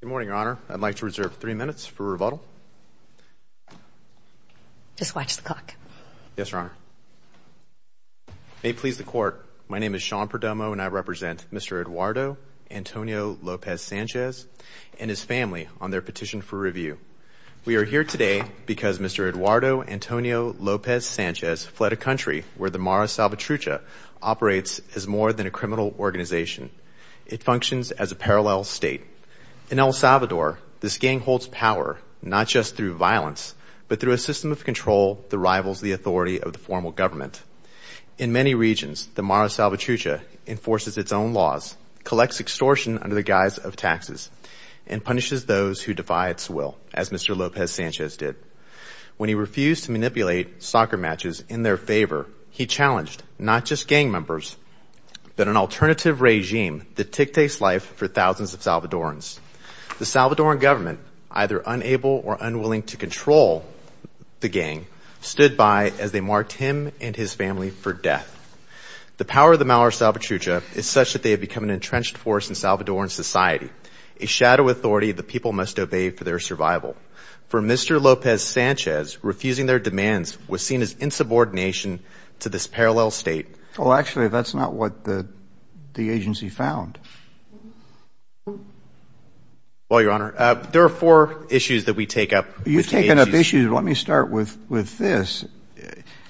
Good morning, Your Honor. I'd like to reserve three minutes for rebuttal. Just watch the clock. Yes, Your Honor. May it please the Court, my name is Sean Perdomo and I represent Mr. Eduardo Antonio Lopez Sanchez and his family on their petition for review. We are here today because Mr. Eduardo Antonio Lopez Sanchez fled a country where the Mara Salvatrucha operates as more than a criminal organization. It functions as a parallel state. In El Salvador, this gang holds power not just through violence, but through a system of control that rivals the authority of the formal government. In many regions, the Mara Salvatrucha enforces its own laws, collects extortion under the guise of taxes, and punishes those who defy its will, as Mr. Lopez Sanchez did. When he refused to manipulate soccer matches in their favor, he challenged not just gang members, but an alternative regime that dictates life for thousands of Salvadorans. The Salvadoran government, either unable or unwilling to control the gang, stood by as they marked him and his family for death. The power of the Mara Salvatrucha is such that they have become an entrenched force in Salvadoran society, a shadow authority the people must obey for their survival. For Mr. Lopez Sanchez, refusing their demands was seen as insubordination to this parallel state. Well, actually, that's not what the agency found. Well, Your Honor, there are four issues that we take up with the agency. You've taken up issues, but let me start with this.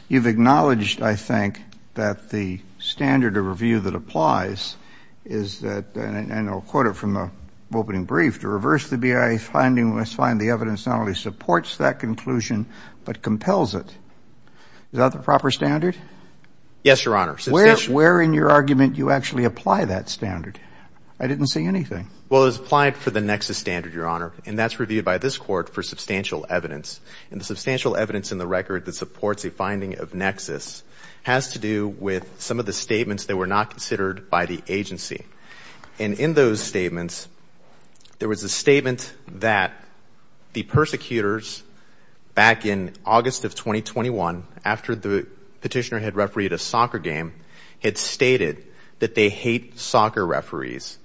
You've acknowledged, I think, that the standard of review that applies is that, and I'll quote it from the opening brief, to reverse the BIA finding, we must find the evidence not only supports that conclusion, but compels it. Is that the proper standard? Yes, Your Honor. Where in your argument do you actually apply that standard? I didn't see anything. Well, it was applied for the nexus standard, Your Honor, and that's reviewed by this Court for substantial evidence. And the substantial evidence in the record that supports a finding of nexus has to do with some of the statements that were not considered by the agency. And in those statements, there was a statement that the persecutors, back in August of 2021, after the petitioner had refereed a soccer game, had stated that they hate soccer referees,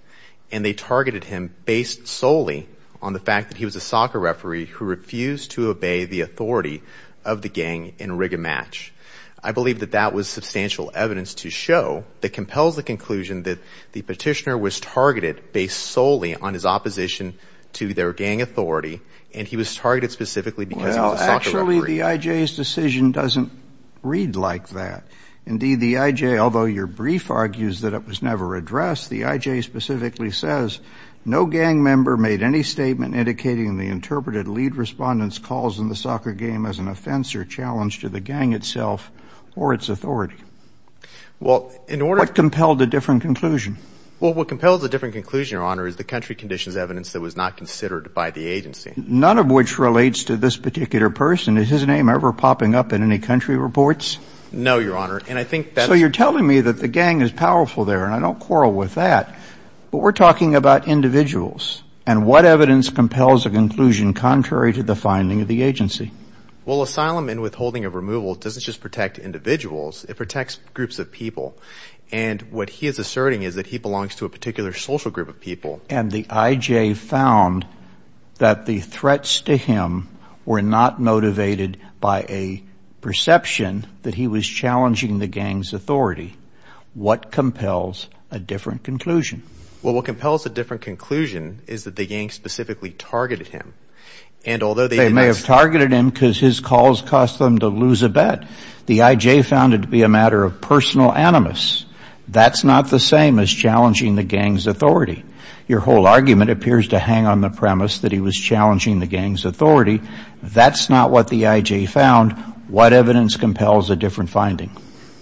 and they targeted him based solely on the fact that he was a soccer referee who refused to obey the authority of the gang in a rigged match. I believe that that was substantial evidence to show that compels the conclusion that the petitioner was targeted based solely on his opposition to their gang authority, and he was targeted specifically because he was a soccer referee. Well, actually, the IJ's decision doesn't read like that. Indeed, the IJ, although your brief argues that it was never addressed, the IJ specifically says, no gang member made any statement indicating the interpreted lead respondent's calls in the soccer game as an offense or challenge to the gang itself or its authority. What compelled a different conclusion? Well, what compelled a different conclusion, Your Honor, is the country conditions evidence that was not considered by the agency. None of which relates to this particular person. Is his name ever popping up in any country reports? No, Your Honor, and I think that's — So you're telling me that the gang is powerful there, and I don't quarrel with that. But we're talking about individuals, and what evidence compels a conclusion contrary to the finding of the agency? Well, asylum and withholding of removal doesn't just protect individuals. It protects groups of people, and what he is asserting is that he belongs to a particular social group of people. And the IJ found that the threats to him were not motivated by a perception that he was challenging the gang's authority. What compels a different conclusion? Well, what compels a different conclusion is that the gang specifically targeted him. And although they — They may have targeted him because his calls caused them to lose a bet. The IJ found it to be a matter of personal animus. That's not the same as challenging the gang's authority. Your whole argument appears to hang on the premise that he was challenging the gang's authority. That's not what the IJ found. What evidence compels a different finding?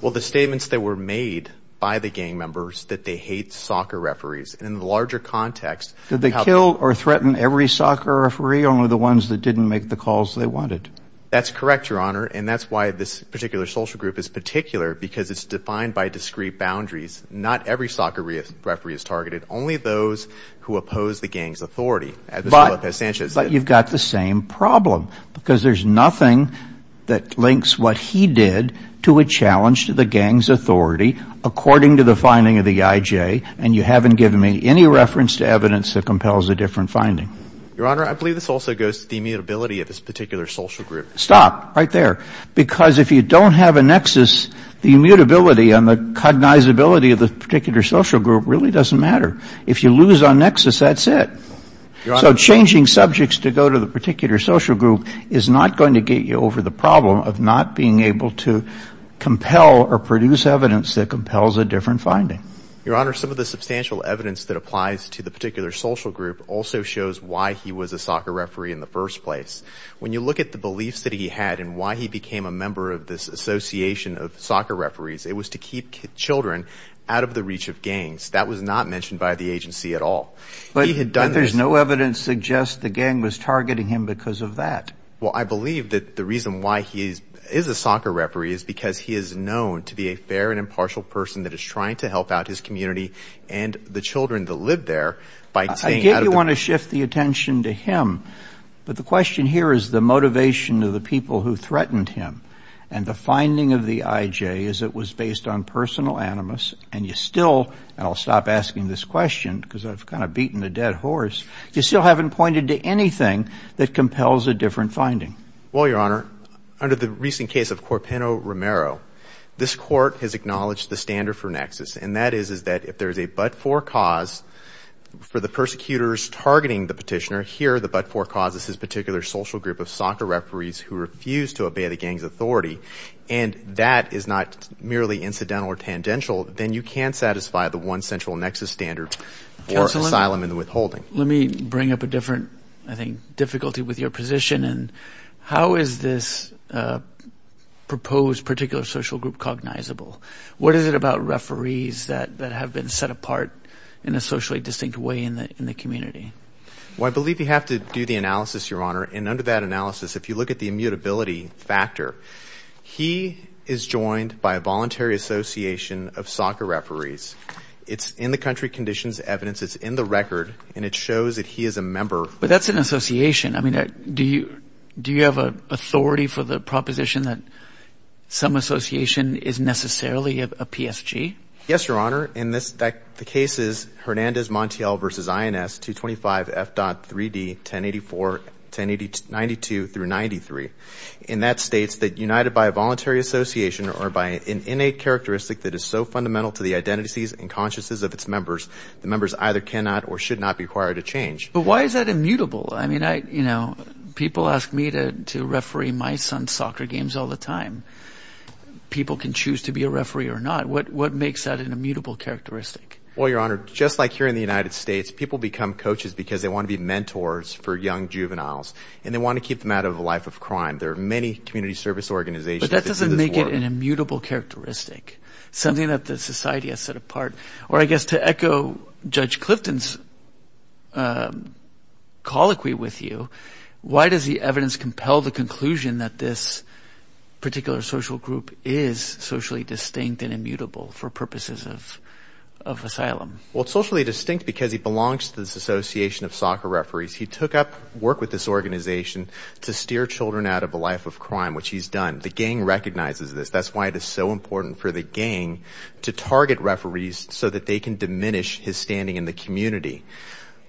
Well, the statements that were made by the gang members that they hate soccer referees, and in the larger context — Did they kill or threaten every soccer referee, only the ones that didn't make the calls they wanted? That's correct, Your Honor, and that's why this particular social group is particular, because it's defined by discrete boundaries. Not every soccer referee is targeted, only those who oppose the gang's authority. But you've got the same problem, because there's nothing that links what he did to a challenge to the gang's authority, according to the finding of the IJ, and you haven't given me any reference to evidence that compels a different finding. Your Honor, I believe this also goes to the immutability of this particular social group. Stop. Right there. Because if you don't have a nexus, the immutability and the cognizability of the particular social group really doesn't matter. If you lose on nexus, that's it. So changing subjects to go to the particular social group is not going to get you over the problem of not being able to compel or produce evidence that compels a different finding. Your Honor, some of the substantial evidence that applies to the particular social group also shows why he was a soccer referee in the first place. When you look at the beliefs that he had and why he became a member of this association of soccer referees, it was to keep children out of the reach of gangs. That was not mentioned by the agency at all. But there's no evidence to suggest the gang was targeting him because of that. Well, I believe that the reason why he is a soccer referee is because he is known to be a fair and impartial person that is trying to help out his community and the children that live there. I get you want to shift the attention to him, but the question here is the motivation of the people who threatened him. And the finding of the IJ is it was based on personal animus, and you still, and I'll stop asking this question because I've kind of beaten a dead horse, you still haven't pointed to anything that compels a different finding. Well, Your Honor, under the recent case of Corpino Romero, this court has acknowledged the standard for nexus, and that is that if there is a but-for cause for the persecutors targeting the petitioner, and here the but-for cause is his particular social group of soccer referees who refuse to obey the gang's authority, and that is not merely incidental or tangential, then you can't satisfy the one central nexus standard for asylum and withholding. Let me bring up a different, I think, difficulty with your position. How is this proposed particular social group cognizable? What is it about referees that have been set apart in a socially distinct way in the community? Well, I believe you have to do the analysis, Your Honor, and under that analysis, if you look at the immutability factor, he is joined by a voluntary association of soccer referees. It's in the country conditions evidence. It's in the record, and it shows that he is a member. But that's an association. I mean, do you have authority for the proposition that some association is necessarily a PSG? Yes, Your Honor. The case is Hernandez-Montiel v. INS 225F.3D 1084-1092-93, and that states that united by a voluntary association or by an innate characteristic that is so fundamental to the identities and consciences of its members, the members either cannot or should not be required to change. But why is that immutable? I mean, you know, people ask me to referee my son's soccer games all the time. People can choose to be a referee or not. What makes that an immutable characteristic? Well, Your Honor, just like here in the United States, people become coaches because they want to be mentors for young juveniles, and they want to keep them out of the life of crime. There are many community service organizations that do this work. But that doesn't make it an immutable characteristic, something that the society has set apart. Or I guess to echo Judge Clifton's colloquy with you, why does the evidence compel the conclusion that this particular social group is socially distinct and immutable for purposes of asylum? Well, it's socially distinct because he belongs to this association of soccer referees. He took up work with this organization to steer children out of the life of crime, which he's done. The gang recognizes this. That's why it is so important for the gang to target referees so that they can diminish his standing in the community.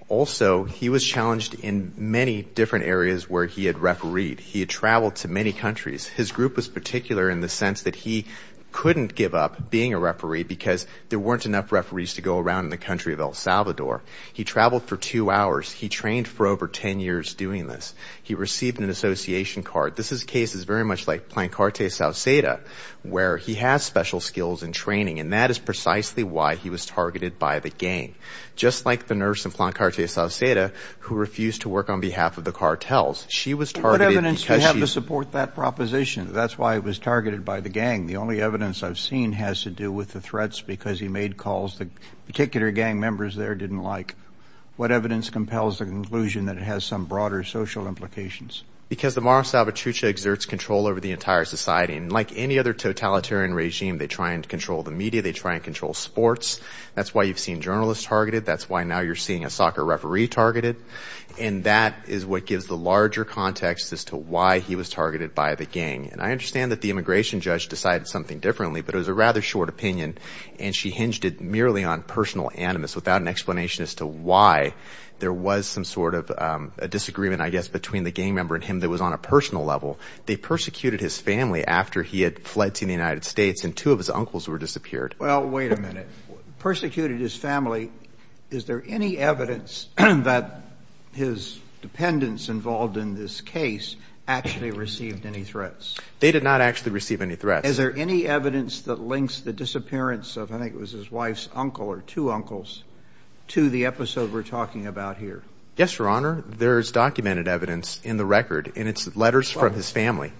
Also, he was challenged in many different areas where he had refereed. He had traveled to many countries. His group was particular in the sense that he couldn't give up being a referee because there weren't enough referees to go around in the country of El Salvador. He traveled for two hours. He trained for over 10 years doing this. He received an association card. This is cases very much like Plancarte Sauceda, where he has special skills and training, and that is precisely why he was targeted by the gang. Just like the nurse in Plancarte Sauceda, who refused to work on behalf of the cartels. She was targeted because she— What evidence do you have to support that proposition? That's why it was targeted by the gang. The only evidence I've seen has to do with the threats because he made calls the particular gang members there didn't like. What evidence compels the conclusion that it has some broader social implications? Because the Mara Salvatrucha exerts control over the entire society. And like any other totalitarian regime, they try and control the media. They try and control sports. That's why you've seen journalists targeted. That's why now you're seeing a soccer referee targeted. And that is what gives the larger context as to why he was targeted by the gang. And I understand that the immigration judge decided something differently, but it was a rather short opinion, and she hinged it merely on personal animus without an explanation as to why there was some sort of a disagreement, I guess, between the gang member and him that was on a personal level. They persecuted his family after he had fled to the United States, and two of his uncles were disappeared. Well, wait a minute. Persecuted his family. Is there any evidence that his dependents involved in this case actually received any threats? They did not actually receive any threats. Is there any evidence that links the disappearance of, I think it was his wife's uncle or two uncles, to the episode we're talking about here? Yes, Your Honor. There is documented evidence in the record, and it's letters from his family.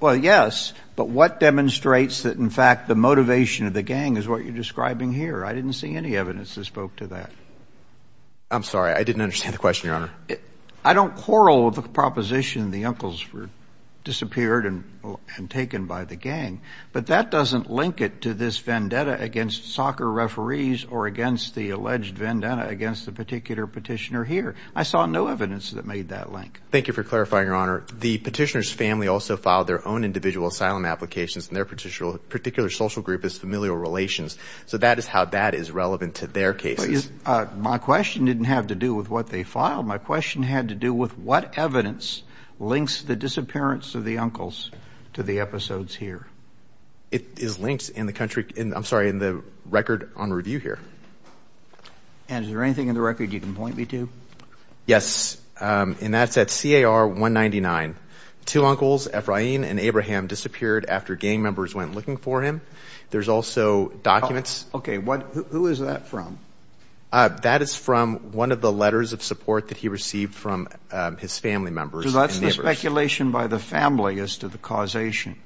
Well, yes, but what demonstrates that, in fact, the motivation of the gang is what you're describing here? I didn't see any evidence that spoke to that. I'm sorry. I didn't understand the question, Your Honor. I don't quarrel with the proposition the uncles were disappeared and taken by the gang, but that doesn't link it to this vendetta against soccer referees or against the alleged vendetta against the particular petitioner here. I saw no evidence that made that link. Thank you for clarifying, Your Honor. The petitioner's family also filed their own individual asylum applications, and their particular social group is familial relations. So that is how that is relevant to their cases. My question didn't have to do with what they filed. My question had to do with what evidence links the disappearance of the uncles to the episodes here. It is linked in the country, I'm sorry, in the record on review here. And is there anything in the record you can point me to? Yes, and that's at CAR 199. Two uncles, Efrain and Abraham, disappeared after gang members went looking for him. There's also documents. Okay. Who is that from? That is from one of the letters of support that he received from his family members and neighbors. So that's the speculation by the family as to the causation.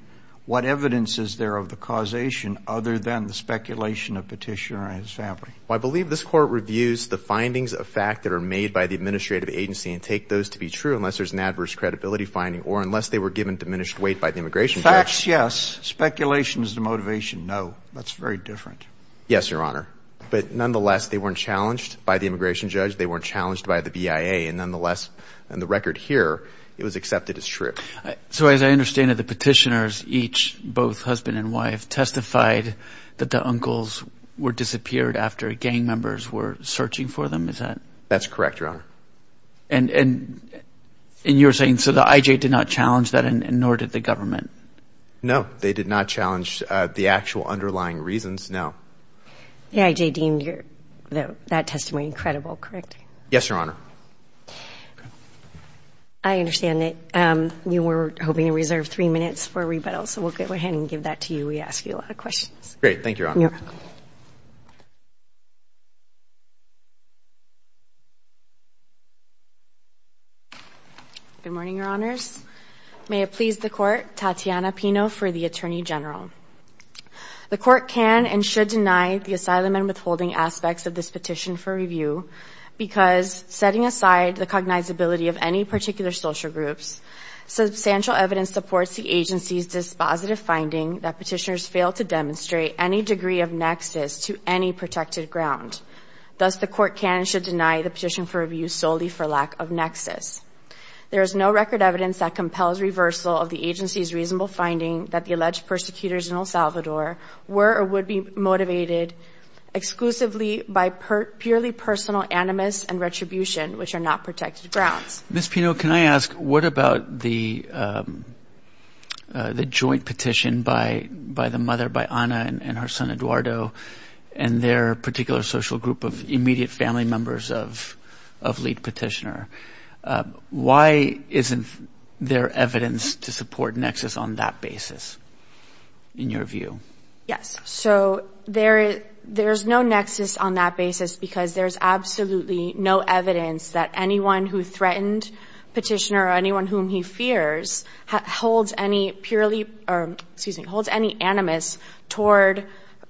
What evidence is there of the causation other than the speculation of Petitioner and his family? Well, I believe this Court reviews the findings of fact that are made by the administrative agency and take those to be true unless there's an adverse credibility finding or unless they were given diminished weight by the immigration judge. Facts, yes. Speculation is the motivation, no. That's very different. Yes, Your Honor. But nonetheless, they weren't challenged by the immigration judge. They weren't challenged by the BIA. And nonetheless, in the record here, it was accepted as true. So as I understand it, the petitioners each, both husband and wife, testified that the uncles were disappeared after gang members were searching for them, is that? That's correct, Your Honor. And you're saying so the IJ did not challenge that and nor did the government? No, they did not challenge the actual underlying reasons, no. The IJ deemed that testimony incredible, correct? Yes, Your Honor. I understand that you were hoping to reserve three minutes for rebuttal, so we'll go ahead and give that to you. We ask you a lot of questions. Thank you, Your Honor. You're welcome. Good morning, Your Honors. May it please the Court, Tatiana Pino for the Attorney General. The Court can and should deny the asylum and withholding aspects of this petition for review because setting aside the cognizability of any particular social groups, substantial evidence supports the agency's dispositive finding that petitioners fail to demonstrate any degree of nexus to any protected ground. Thus, the Court can and should deny the petition for review solely for lack of nexus. There is no record evidence that compels reversal of the agency's reasonable finding that the alleged persecutors in El Salvador were or would be motivated exclusively by purely personal animus and retribution, which are not protected grounds. Ms. Pino, can I ask, what about the joint petition by the mother, by Ana and her son, Eduardo, and their particular social group of immediate family members of lead petitioner? Why isn't there evidence to support nexus on that basis, in your view? Yes, so there's no nexus on that basis because there's absolutely no evidence that anyone who threatened petitioner or anyone whom he fears holds any animus toward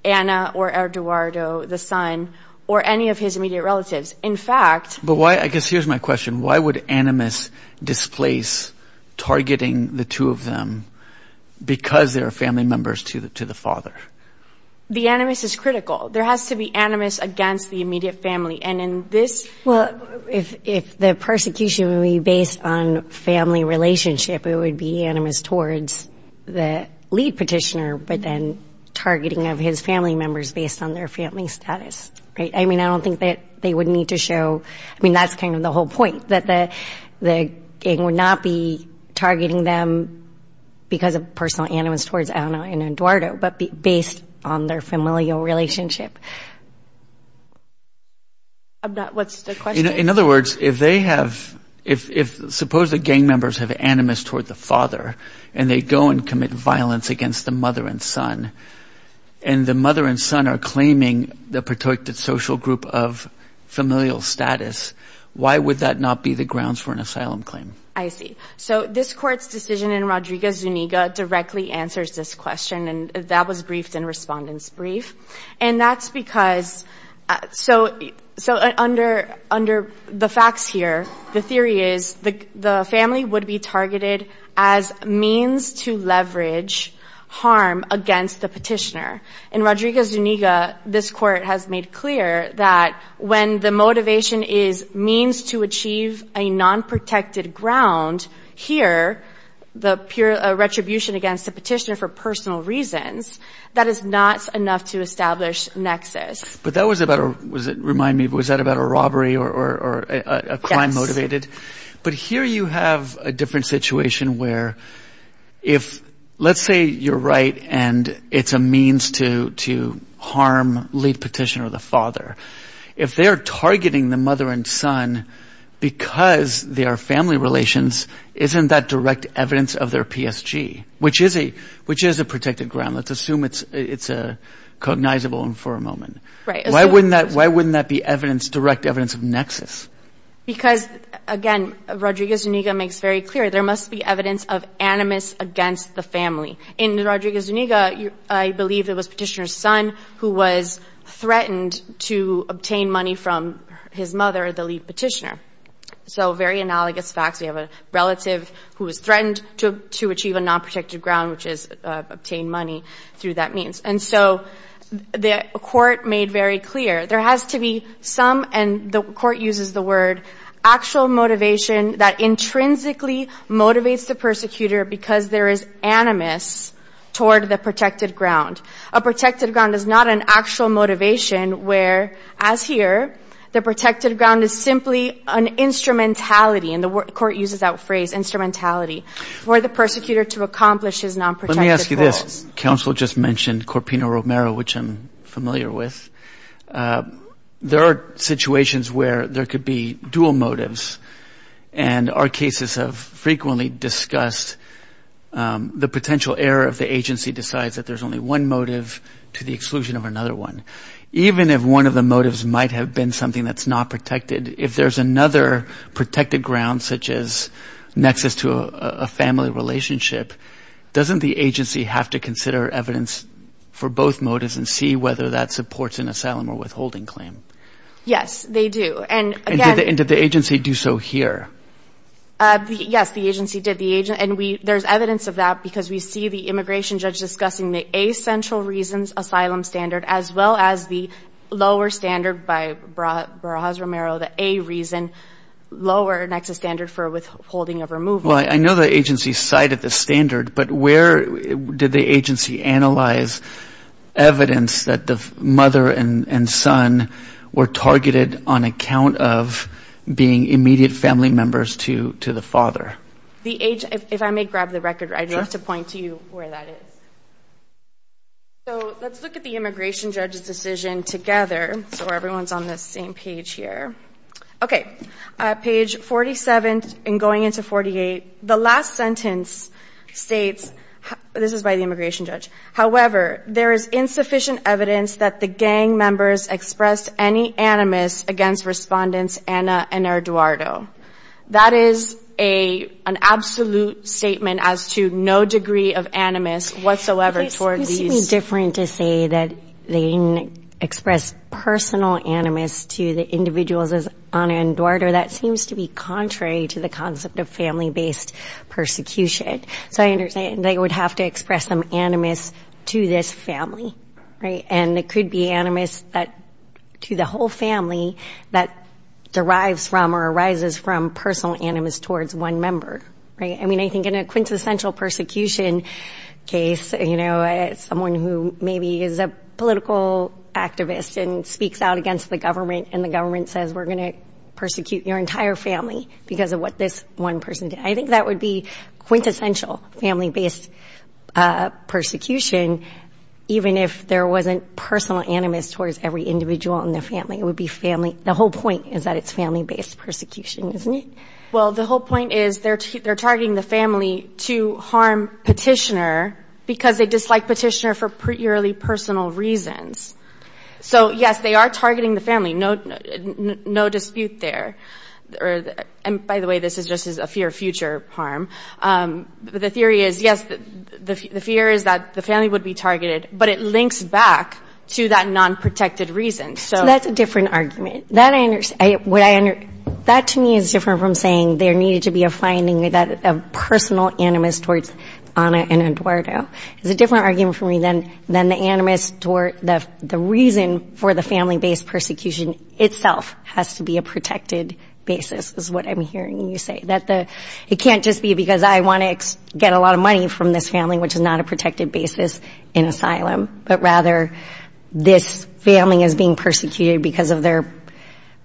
Ana or Eduardo, the son, or any of his immediate relatives. In fact— But why—I guess here's my question. Why would animus displace targeting the two of them because they're family members to the father? The animus is critical. There has to be animus against the immediate family. And in this— Well, if the persecution would be based on family relationship, it would be animus towards the lead petitioner, but then targeting of his family members based on their family status, right? I mean, I don't think that they would need to show—I mean, that's kind of the whole point, that it would not be targeting them because of personal animus towards Ana and Eduardo, but based on their familial relationship. What's the question? In other words, if they have—if—suppose the gang members have animus toward the father, and they go and commit violence against the mother and son, and the mother and son are claiming the protected social group of familial status, why would that not be the grounds for an asylum claim? I see. So this Court's decision in Rodriguez-Zuniga directly answers this question, and that was briefed in Respondent's Brief. And that's because—so under the facts here, the theory is the family would be targeted as means to leverage harm against the petitioner. In Rodriguez-Zuniga, this Court has made clear that when the motivation is means to achieve a non-protected ground, here, the retribution against the petitioner for personal reasons, that is not enough to establish nexus. But that was about—remind me, was that about a robbery or a crime motivated? But here you have a different situation where if—let's say you're right and it's a means to harm late petitioner or the father. If they are targeting the mother and son because they are family relations, isn't that direct evidence of their PSG, which is a protected ground? Let's assume it's cognizable for a moment. Why wouldn't that be direct evidence of nexus? Because, again, Rodriguez-Zuniga makes very clear there must be evidence of animus against the family. In Rodriguez-Zuniga, I believe it was petitioner's son who was threatened to obtain money from his mother, the lead petitioner. So very analogous facts. We have a relative who was threatened to achieve a non-protected ground, which is obtain money through that means. And so the court made very clear there has to be some, and the court uses the word, actual motivation that intrinsically motivates the persecutor because there is animus toward the protected ground. A protected ground is not an actual motivation where, as here, the protected ground is simply an instrumentality, and the court uses that phrase, instrumentality, for the persecutor to accomplish his non-protected goals. Let me ask you this. Counsel just mentioned Corpino Romero, which I'm familiar with. There are situations where there could be dual motives, and our cases have frequently discussed the potential error if the agency decides that there's only one motive to the exclusion of another one. Even if one of the motives might have been something that's not protected, if there's another protected ground, such as nexus to a family relationship, doesn't the agency have to consider evidence for both motives and see whether that supports an asylum or withholding claim? Yes, they do. And did the agency do so here? Yes, the agency did. And there's evidence of that because we see the immigration judge discussing the A central reasons asylum standard as well as the lower standard by Barajas Romero, the A reason, lower nexus standard for withholding of removal. Well, I know the agency cited the standard, but where did the agency analyze evidence that the mother and son were targeted on account of being immediate family members to the father? If I may grab the record, I'd love to point to you where that is. So let's look at the immigration judge's decision together so everyone's on the same page here. Okay. Page 47 and going into 48, the last sentence states, this is by the immigration judge, however, there is insufficient evidence that the gang members expressed any animus against respondents Anna and Eduardo. That is an absolute statement as to no degree of animus whatsoever toward these. It seems to me different to say that they expressed personal animus to the individuals as Anna and Eduardo. That seems to be contrary to the concept of family-based persecution. So I understand they would have to express some animus to this family, right? And it could be animus to the whole family that derives from or arises from personal animus towards one member, right? I mean, I think in a quintessential persecution case, you know, someone who maybe is a political activist and speaks out against the government and the government says we're going to persecute your entire family because of what this one person did. I think that would be quintessential family-based persecution, even if there wasn't personal animus towards every individual in the family. It would be family. The whole point is that it's family-based persecution, isn't it? Well, the whole point is they're targeting the family to harm petitioner because they dislike petitioner for purely personal reasons. So, yes, they are targeting the family. No dispute there. And, by the way, this is just a fear of future harm. The theory is, yes, the fear is that the family would be targeted, but it links back to that non-protected reason. So that's a different argument. That, to me, is different from saying there needed to be a finding of personal animus towards Ana and Eduardo. It's a different argument for me than the animus toward the reason for the family-based persecution itself has to be a protected basis is what I'm hearing you say. It can't just be because I want to get a lot of money from this family, which is not a protected basis in asylum, but rather this family is being persecuted because of their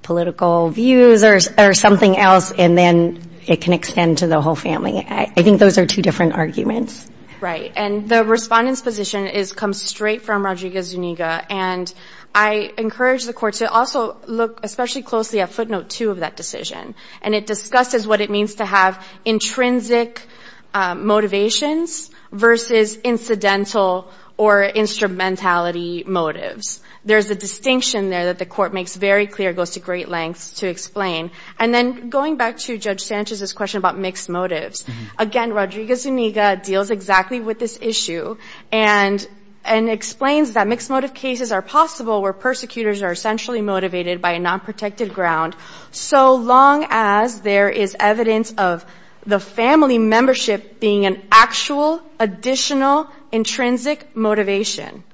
political views or something else, and then it can extend to the whole family. I think those are two different arguments. Right. And the respondent's position comes straight from Rodriguez-Zuniga, and I encourage the court to also look especially closely at footnote two of that decision, and it discusses what it means to have intrinsic motivations versus incidental or instrumentality motives. There's a distinction there that the court makes very clear, goes to great lengths to explain. And then going back to Judge Sanchez's question about mixed motives, again, Rodriguez-Zuniga deals exactly with this issue and explains that mixed motive cases are possible where persecutors are essentially motivated by a nonprotected ground, so long as there is evidence of the family membership being an actual, additional, intrinsic motivation.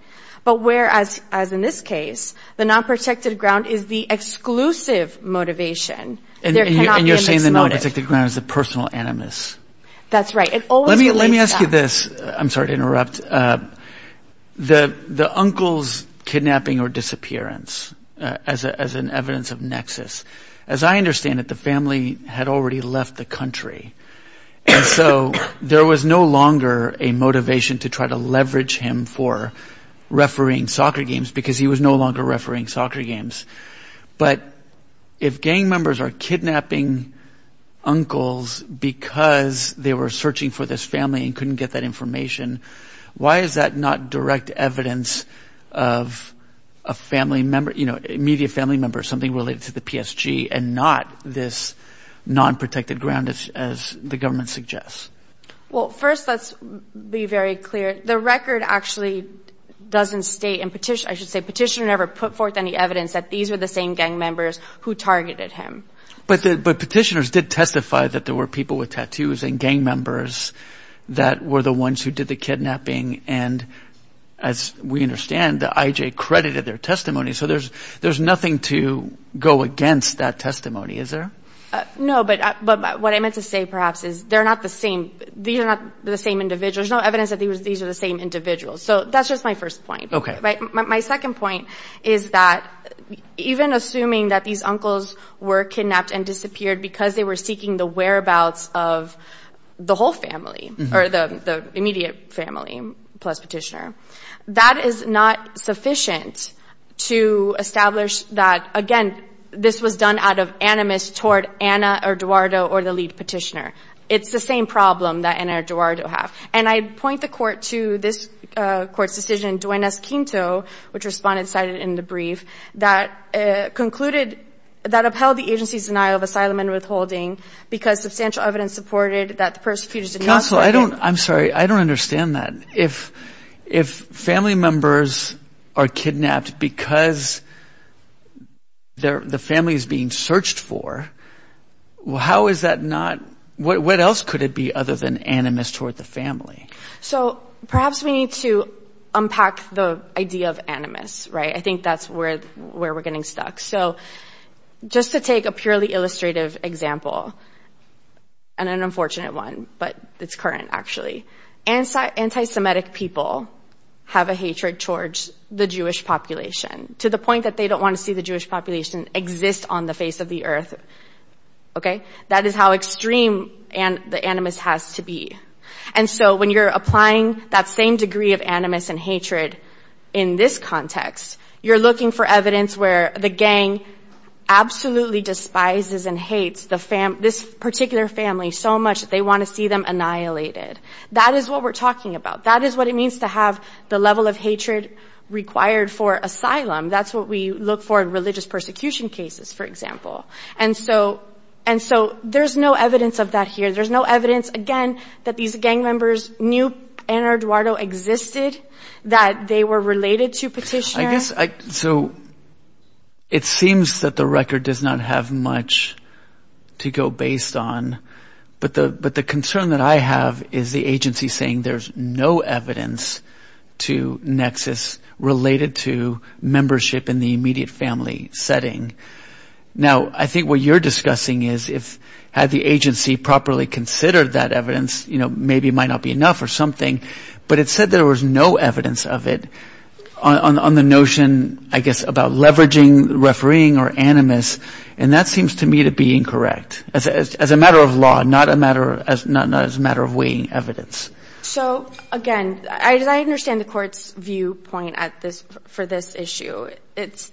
But whereas, as in this case, the nonprotected ground is the exclusive motivation, there cannot be a mixed motive. And you're saying the nonprotected ground is the personal animus. That's right. Let me ask you this. I'm sorry to interrupt. The uncle's kidnapping or disappearance as an evidence of nexus, as I understand it, the family had already left the country, and so there was no longer a motivation to try to leverage him for refereeing soccer games because he was no longer refereeing soccer games. But if gang members are kidnapping uncles because they were searching for this family and couldn't get that information, why is that not direct evidence of a family member, immediate family member, something related to the PSG and not this nonprotected ground, as the government suggests? Well, first, let's be very clear. The record actually doesn't state, I should say petitioner never put forth any evidence that these were the same gang members who targeted him. But petitioners did testify that there were people with tattoos and gang members that were the ones who did the kidnapping. And as we understand, the IJ credited their testimony. So there's nothing to go against that testimony, is there? No, but what I meant to say perhaps is they're not the same. These are not the same individuals. There's no evidence that these are the same individuals. So that's just my first point. My second point is that even assuming that these uncles were kidnapped and disappeared because they were seeking the whereabouts of the whole family or the immediate family plus petitioner, that is not sufficient to establish that, again, this was done out of animus toward Ana Eduardo or the lead petitioner. It's the same problem that Ana Eduardo have. And I point the court to this court's decision, Duenas-Quinto, which respondents cited in the brief, that concluded that upheld the agency's denial of asylum and withholding because substantial evidence supported that the persecutors did not target. Counsel, I'm sorry. I don't understand that. If family members are kidnapped because the family is being searched for, how is that not, what else could it be other than animus toward the family? So perhaps we need to unpack the idea of animus, right? I think that's where we're getting stuck. So just to take a purely illustrative example, and an unfortunate one, but it's current actually, anti-Semitic people have a hatred towards the Jewish population to the point that they don't want to see the Jewish population exist on the face of the earth Okay? That is how extreme the animus has to be. And so when you're applying that same degree of animus and hatred in this context, you're looking for evidence where the gang absolutely despises and hates this particular family so much that they want to see them annihilated. That is what we're talking about. That is what it means to have the level of hatred required for asylum. That's what we look for in religious persecution cases, for example. And so there's no evidence of that here. There's no evidence, again, that these gang members knew Ennard Duardo existed, that they were related to Petitioner. So it seems that the record does not have much to go based on, but the concern that I have is the agency saying there's no evidence to Nexus related to membership in the immediate family setting. Now, I think what you're discussing is, had the agency properly considered that evidence, maybe it might not be enough or something, but it said there was no evidence of it on the notion, I guess, about leveraging refereeing or animus, and that seems to me to be incorrect as a matter of law, not as a matter of weighing evidence. So, again, I understand the court's viewpoint for this issue. It's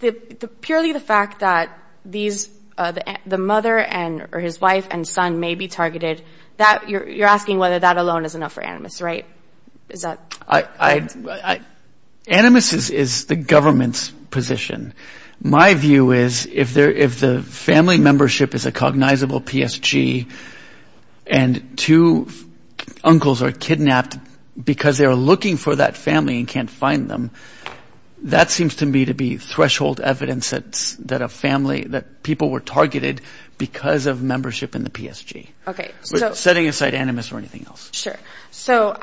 purely the fact that the mother or his wife and son may be targeted. You're asking whether that alone is enough for animus, right? Is that correct? Animus is the government's position. My view is, if the family membership is a cognizable PSG and two uncles are kidnapped because they are looking for that family and can't find them, that seems to me to be threshold evidence that people were targeted because of membership in the PSG. Setting aside animus or anything else. Sure. So,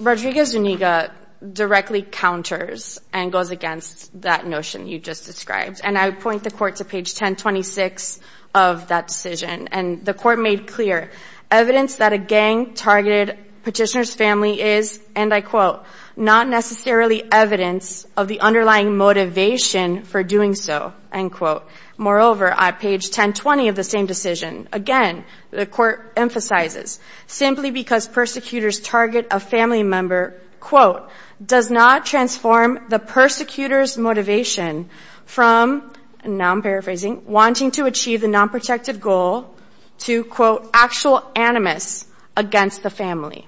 Rodriguez-Zuniga directly counters and goes against that notion you just described, and I point the court to page 1026 of that decision, and the court made clear evidence that a gang-targeted petitioner's family is, and I quote, not necessarily evidence of the underlying motivation for doing so, end quote. Moreover, at page 1020 of the same decision, again, the court emphasizes, simply because persecutors target a family member, quote, does not transform the persecutor's motivation from, and now I'm paraphrasing, wanting to achieve the non-protective goal to, quote, actual animus against the family.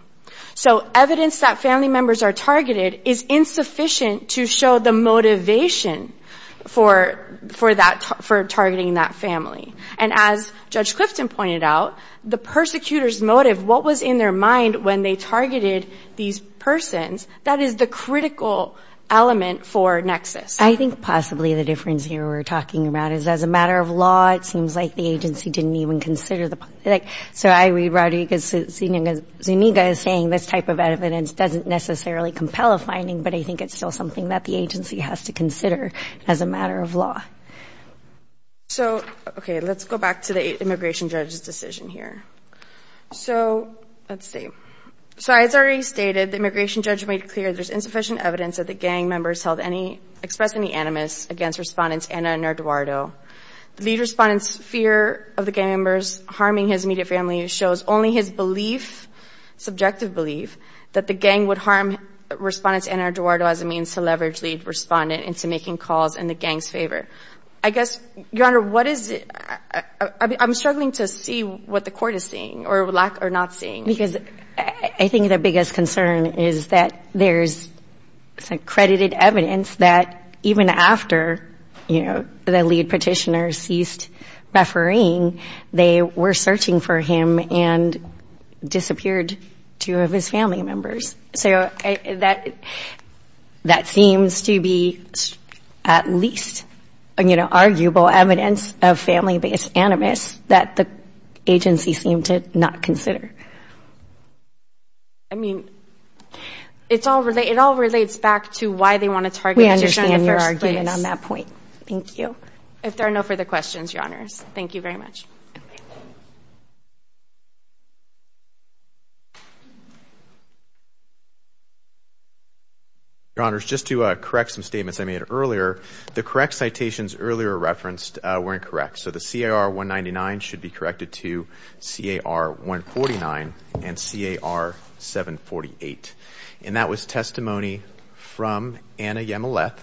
So evidence that family members are targeted is insufficient to show the motivation for targeting that family. And as Judge Clifton pointed out, the persecutor's motive, what was in their mind when they targeted these persons, that is the critical element for nexus. I think possibly the difference here we're talking about is as a matter of law, it seems like the agency didn't even consider the, like, so I read Rodriguez-Zuniga as saying this type of evidence doesn't necessarily compel a finding, but I think it's still something that the agency has to consider as a matter of law. So, okay, let's go back to the immigration judge's decision here. So let's see. So as already stated, the immigration judge made clear there's insufficient evidence that the gang members held any, expressed any animus against Respondents Ana and Eduardo. The lead Respondent's fear of the gang members harming his immediate family shows only his belief, subjective belief, that the gang would harm Respondents Ana and Eduardo as a means to leverage lead Respondent into making calls in the gang's favor. I guess, Your Honor, what is it? I'm struggling to see what the Court is seeing or not seeing. Because I think the biggest concern is that there's accredited evidence that even after, you know, the lead Petitioner ceased refereeing, they were searching for him and disappeared two of his family members. So that seems to be at least, you know, arguable evidence of family-based animus that the agency seemed to not consider. I mean, it all relates back to why they want to target the petitioner in the first place. We understand your argument on that point. Thank you. If there are no further questions, Your Honors, thank you very much. Thank you. Your Honors, just to correct some statements I made earlier, the correct citations earlier referenced were incorrect. So the CAR-199 should be corrected to CAR-149 and CAR-748. And that was testimony from Ana Yamileth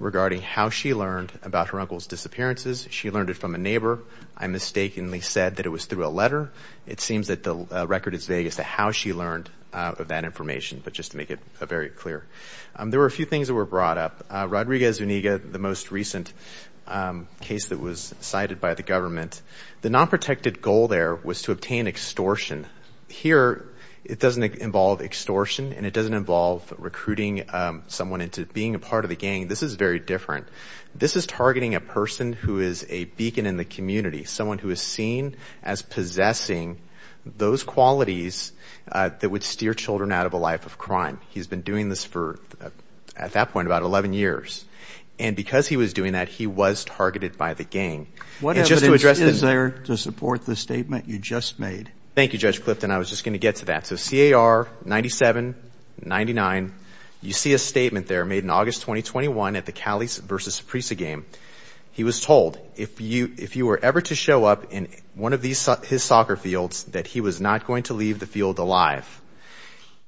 regarding how she learned about her uncle's disappearances. She learned it from a neighbor. I mistakenly said that it was through a letter. It seems that the record is vague as to how she learned that information, but just to make it very clear. There were a few things that were brought up. Rodriguez-Zuniga, the most recent case that was cited by the government, the non-protected goal there was to obtain extortion. Here it doesn't involve extortion and it doesn't involve recruiting someone into being a part of the gang. This is very different. This is targeting a person who is a beacon in the community, someone who is seen as possessing those qualities that would steer children out of a life of crime. He's been doing this for, at that point, about 11 years. And because he was doing that, he was targeted by the gang. What evidence is there to support the statement you just made? Thank you, Judge Clifton. I was just going to get to that. So CAR 97-99, you see a statement there made in August 2021 at the Cowleys versus Saprissa game. He was told, if you were ever to show up in one of his soccer fields, that he was not going to leave the field alive.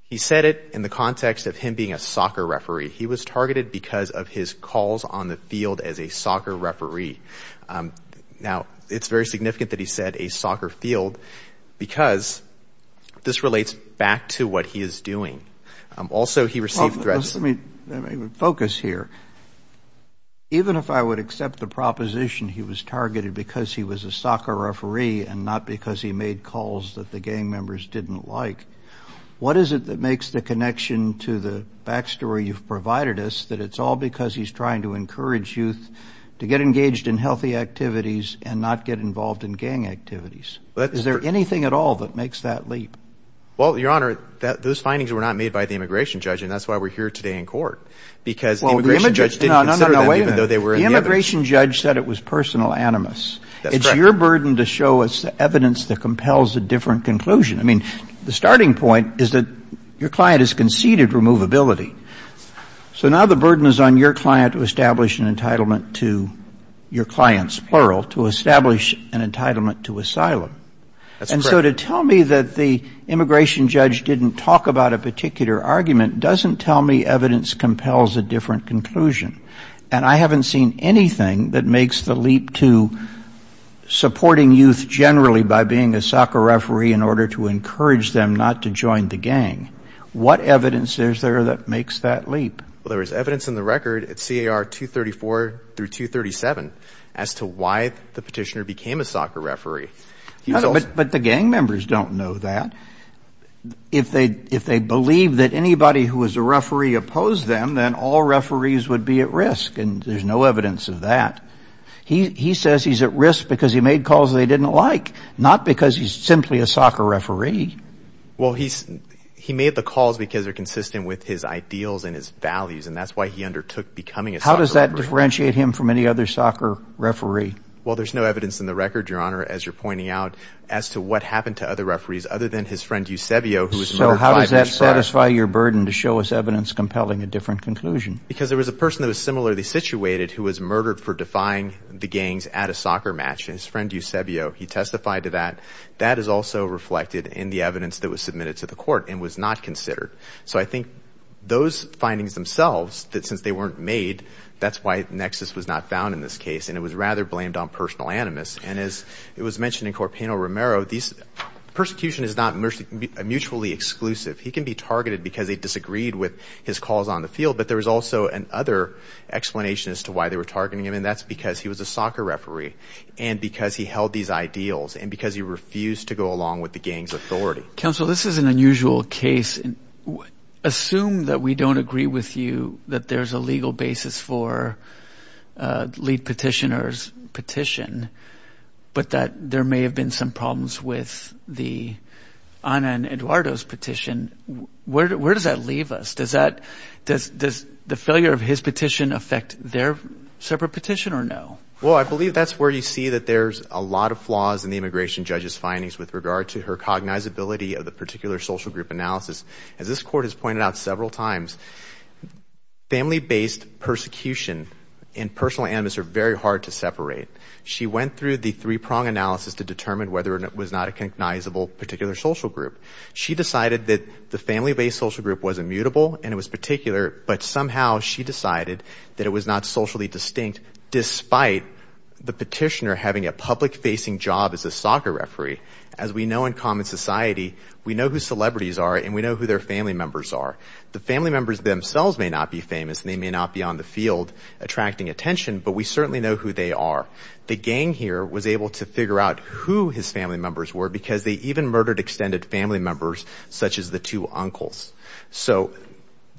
He said it in the context of him being a soccer referee. He was targeted because of his calls on the field as a soccer referee. Now, it's very significant that he said a soccer field because this relates back to what he is doing. Also, he received threats. Let me focus here. Even if I would accept the proposition he was targeted because he was a soccer referee and not because he made calls that the gang members didn't like, what is it that makes the connection to the back story you've provided us, that it's all because he's trying to encourage youth to get engaged in healthy activities and not get involved in gang activities? Is there anything at all that makes that leap? Well, Your Honor, those findings were not made by the immigration judge, and that's why we're here today in court because the immigration judge didn't consider them, even though they were in the evidence. No, no, no, wait a minute. The immigration judge said it was personal animus. That's correct. It's your burden to show us the evidence that compels a different conclusion. I mean, the starting point is that your client has conceded removability. So now the burden is on your client to establish an entitlement to your clients, plural, to establish an entitlement to asylum. That's correct. And so to tell me that the immigration judge didn't talk about a particular argument doesn't tell me evidence compels a different conclusion. And I haven't seen anything that makes the leap to supporting youth generally by being a soccer referee in order to encourage them not to join the gang. What evidence is there that makes that leap? Well, there is evidence in the record at CAR 234 through 237 as to why the petitioner became a soccer referee. But the gang members don't know that. If they believe that anybody who was a referee opposed them, then all referees would be at risk, and there's no evidence of that. He says he's at risk because he made calls they didn't like, not because he's simply a soccer referee. Well, he made the calls because they're consistent with his ideals and his values, and that's why he undertook becoming a soccer referee. How does that differentiate him from any other soccer referee? Well, there's no evidence in the record, Your Honor, as you're pointing out, as to what happened to other referees other than his friend Eusebio who was murdered five years prior. So how does that satisfy your burden to show us evidence compelling a different conclusion? Because there was a person that was similarly situated who was murdered for defying the gangs at a soccer match, his friend Eusebio. He testified to that. That is also reflected in the evidence that was submitted to the court and was not considered. So I think those findings themselves, since they weren't made, that's why Nexus was not found in this case, and it was rather blamed on personal animus. And as it was mentioned in Corpaino-Romero, persecution is not mutually exclusive. He can be targeted because they disagreed with his calls on the field, but there was also another explanation as to why they were targeting him, and that's because he was a soccer referee and because he held these ideals and because he refused to go along with the gangs' authority. Counsel, this is an unusual case. Assume that we don't agree with you that there's a legal basis for a lead petitioner's petition but that there may have been some problems with Ana and Eduardo's petition. Where does that leave us? Does the failure of his petition affect their separate petition or no? Well, I believe that's where you see that there's a lot of flaws in the immigration judge's findings with regard to her cognizability of the particular social group analysis. As this court has pointed out several times, family-based persecution and personal animus are very hard to separate. She went through the three-prong analysis to determine whether it was not a cognizable particular social group. She decided that the family-based social group was immutable and it was particular, but somehow she decided that it was not socially distinct despite the petitioner having a public-facing job as a soccer referee. As we know in common society, we know who celebrities are and we know who their family members are. The family members themselves may not be famous and they may not be on the field attracting attention, but we certainly know who they are. The gang here was able to figure out who his family members were because they even murdered extended family members such as the two uncles. So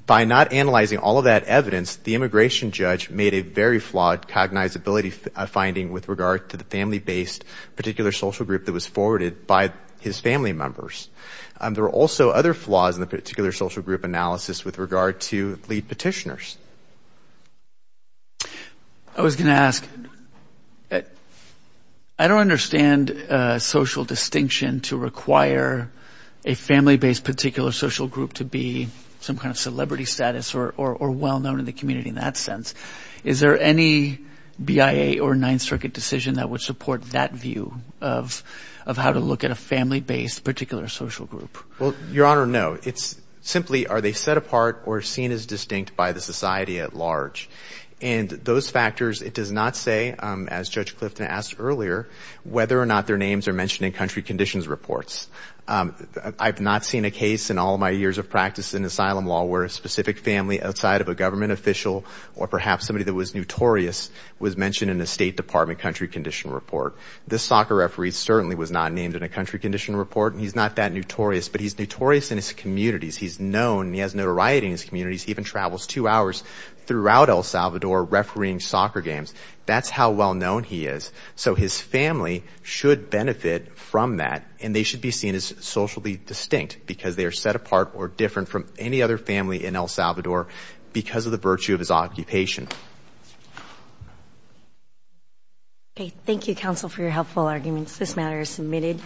by not analyzing all of that evidence, the immigration judge made a very flawed cognizability finding with regard to the family-based particular social group that was forwarded by his family members. There were also other flaws in the particular social group analysis with regard to lead petitioners. I was going to ask, I don't understand social distinction to require a family-based particular social group to be some kind of celebrity status or well-known in the community in that sense. Is there any BIA or Ninth Circuit decision that would support that view of how to look at a family-based particular social group? Well, Your Honor, no. It's simply are they set apart or seen as distinct by the society at large? And those factors, it does not say, as Judge Clifton asked earlier, whether or not their names are mentioned in country conditions reports. I've not seen a case in all of my years of practice in asylum law where a specific family outside of a government official or perhaps somebody that was notorious was mentioned in a State Department country condition report. This soccer referee certainly was not named in a country condition report. He's not that notorious, but he's notorious in his communities. He's known. He has notoriety in his communities. He even travels two hours throughout El Salvador refereeing soccer games. That's how well-known he is. So his family should benefit from that, and they should be seen as socially distinct because they are set apart or different from any other family in El Salvador because of the virtue of his occupation. Thank you, counsel, for your helpful arguments. This matter is submitted.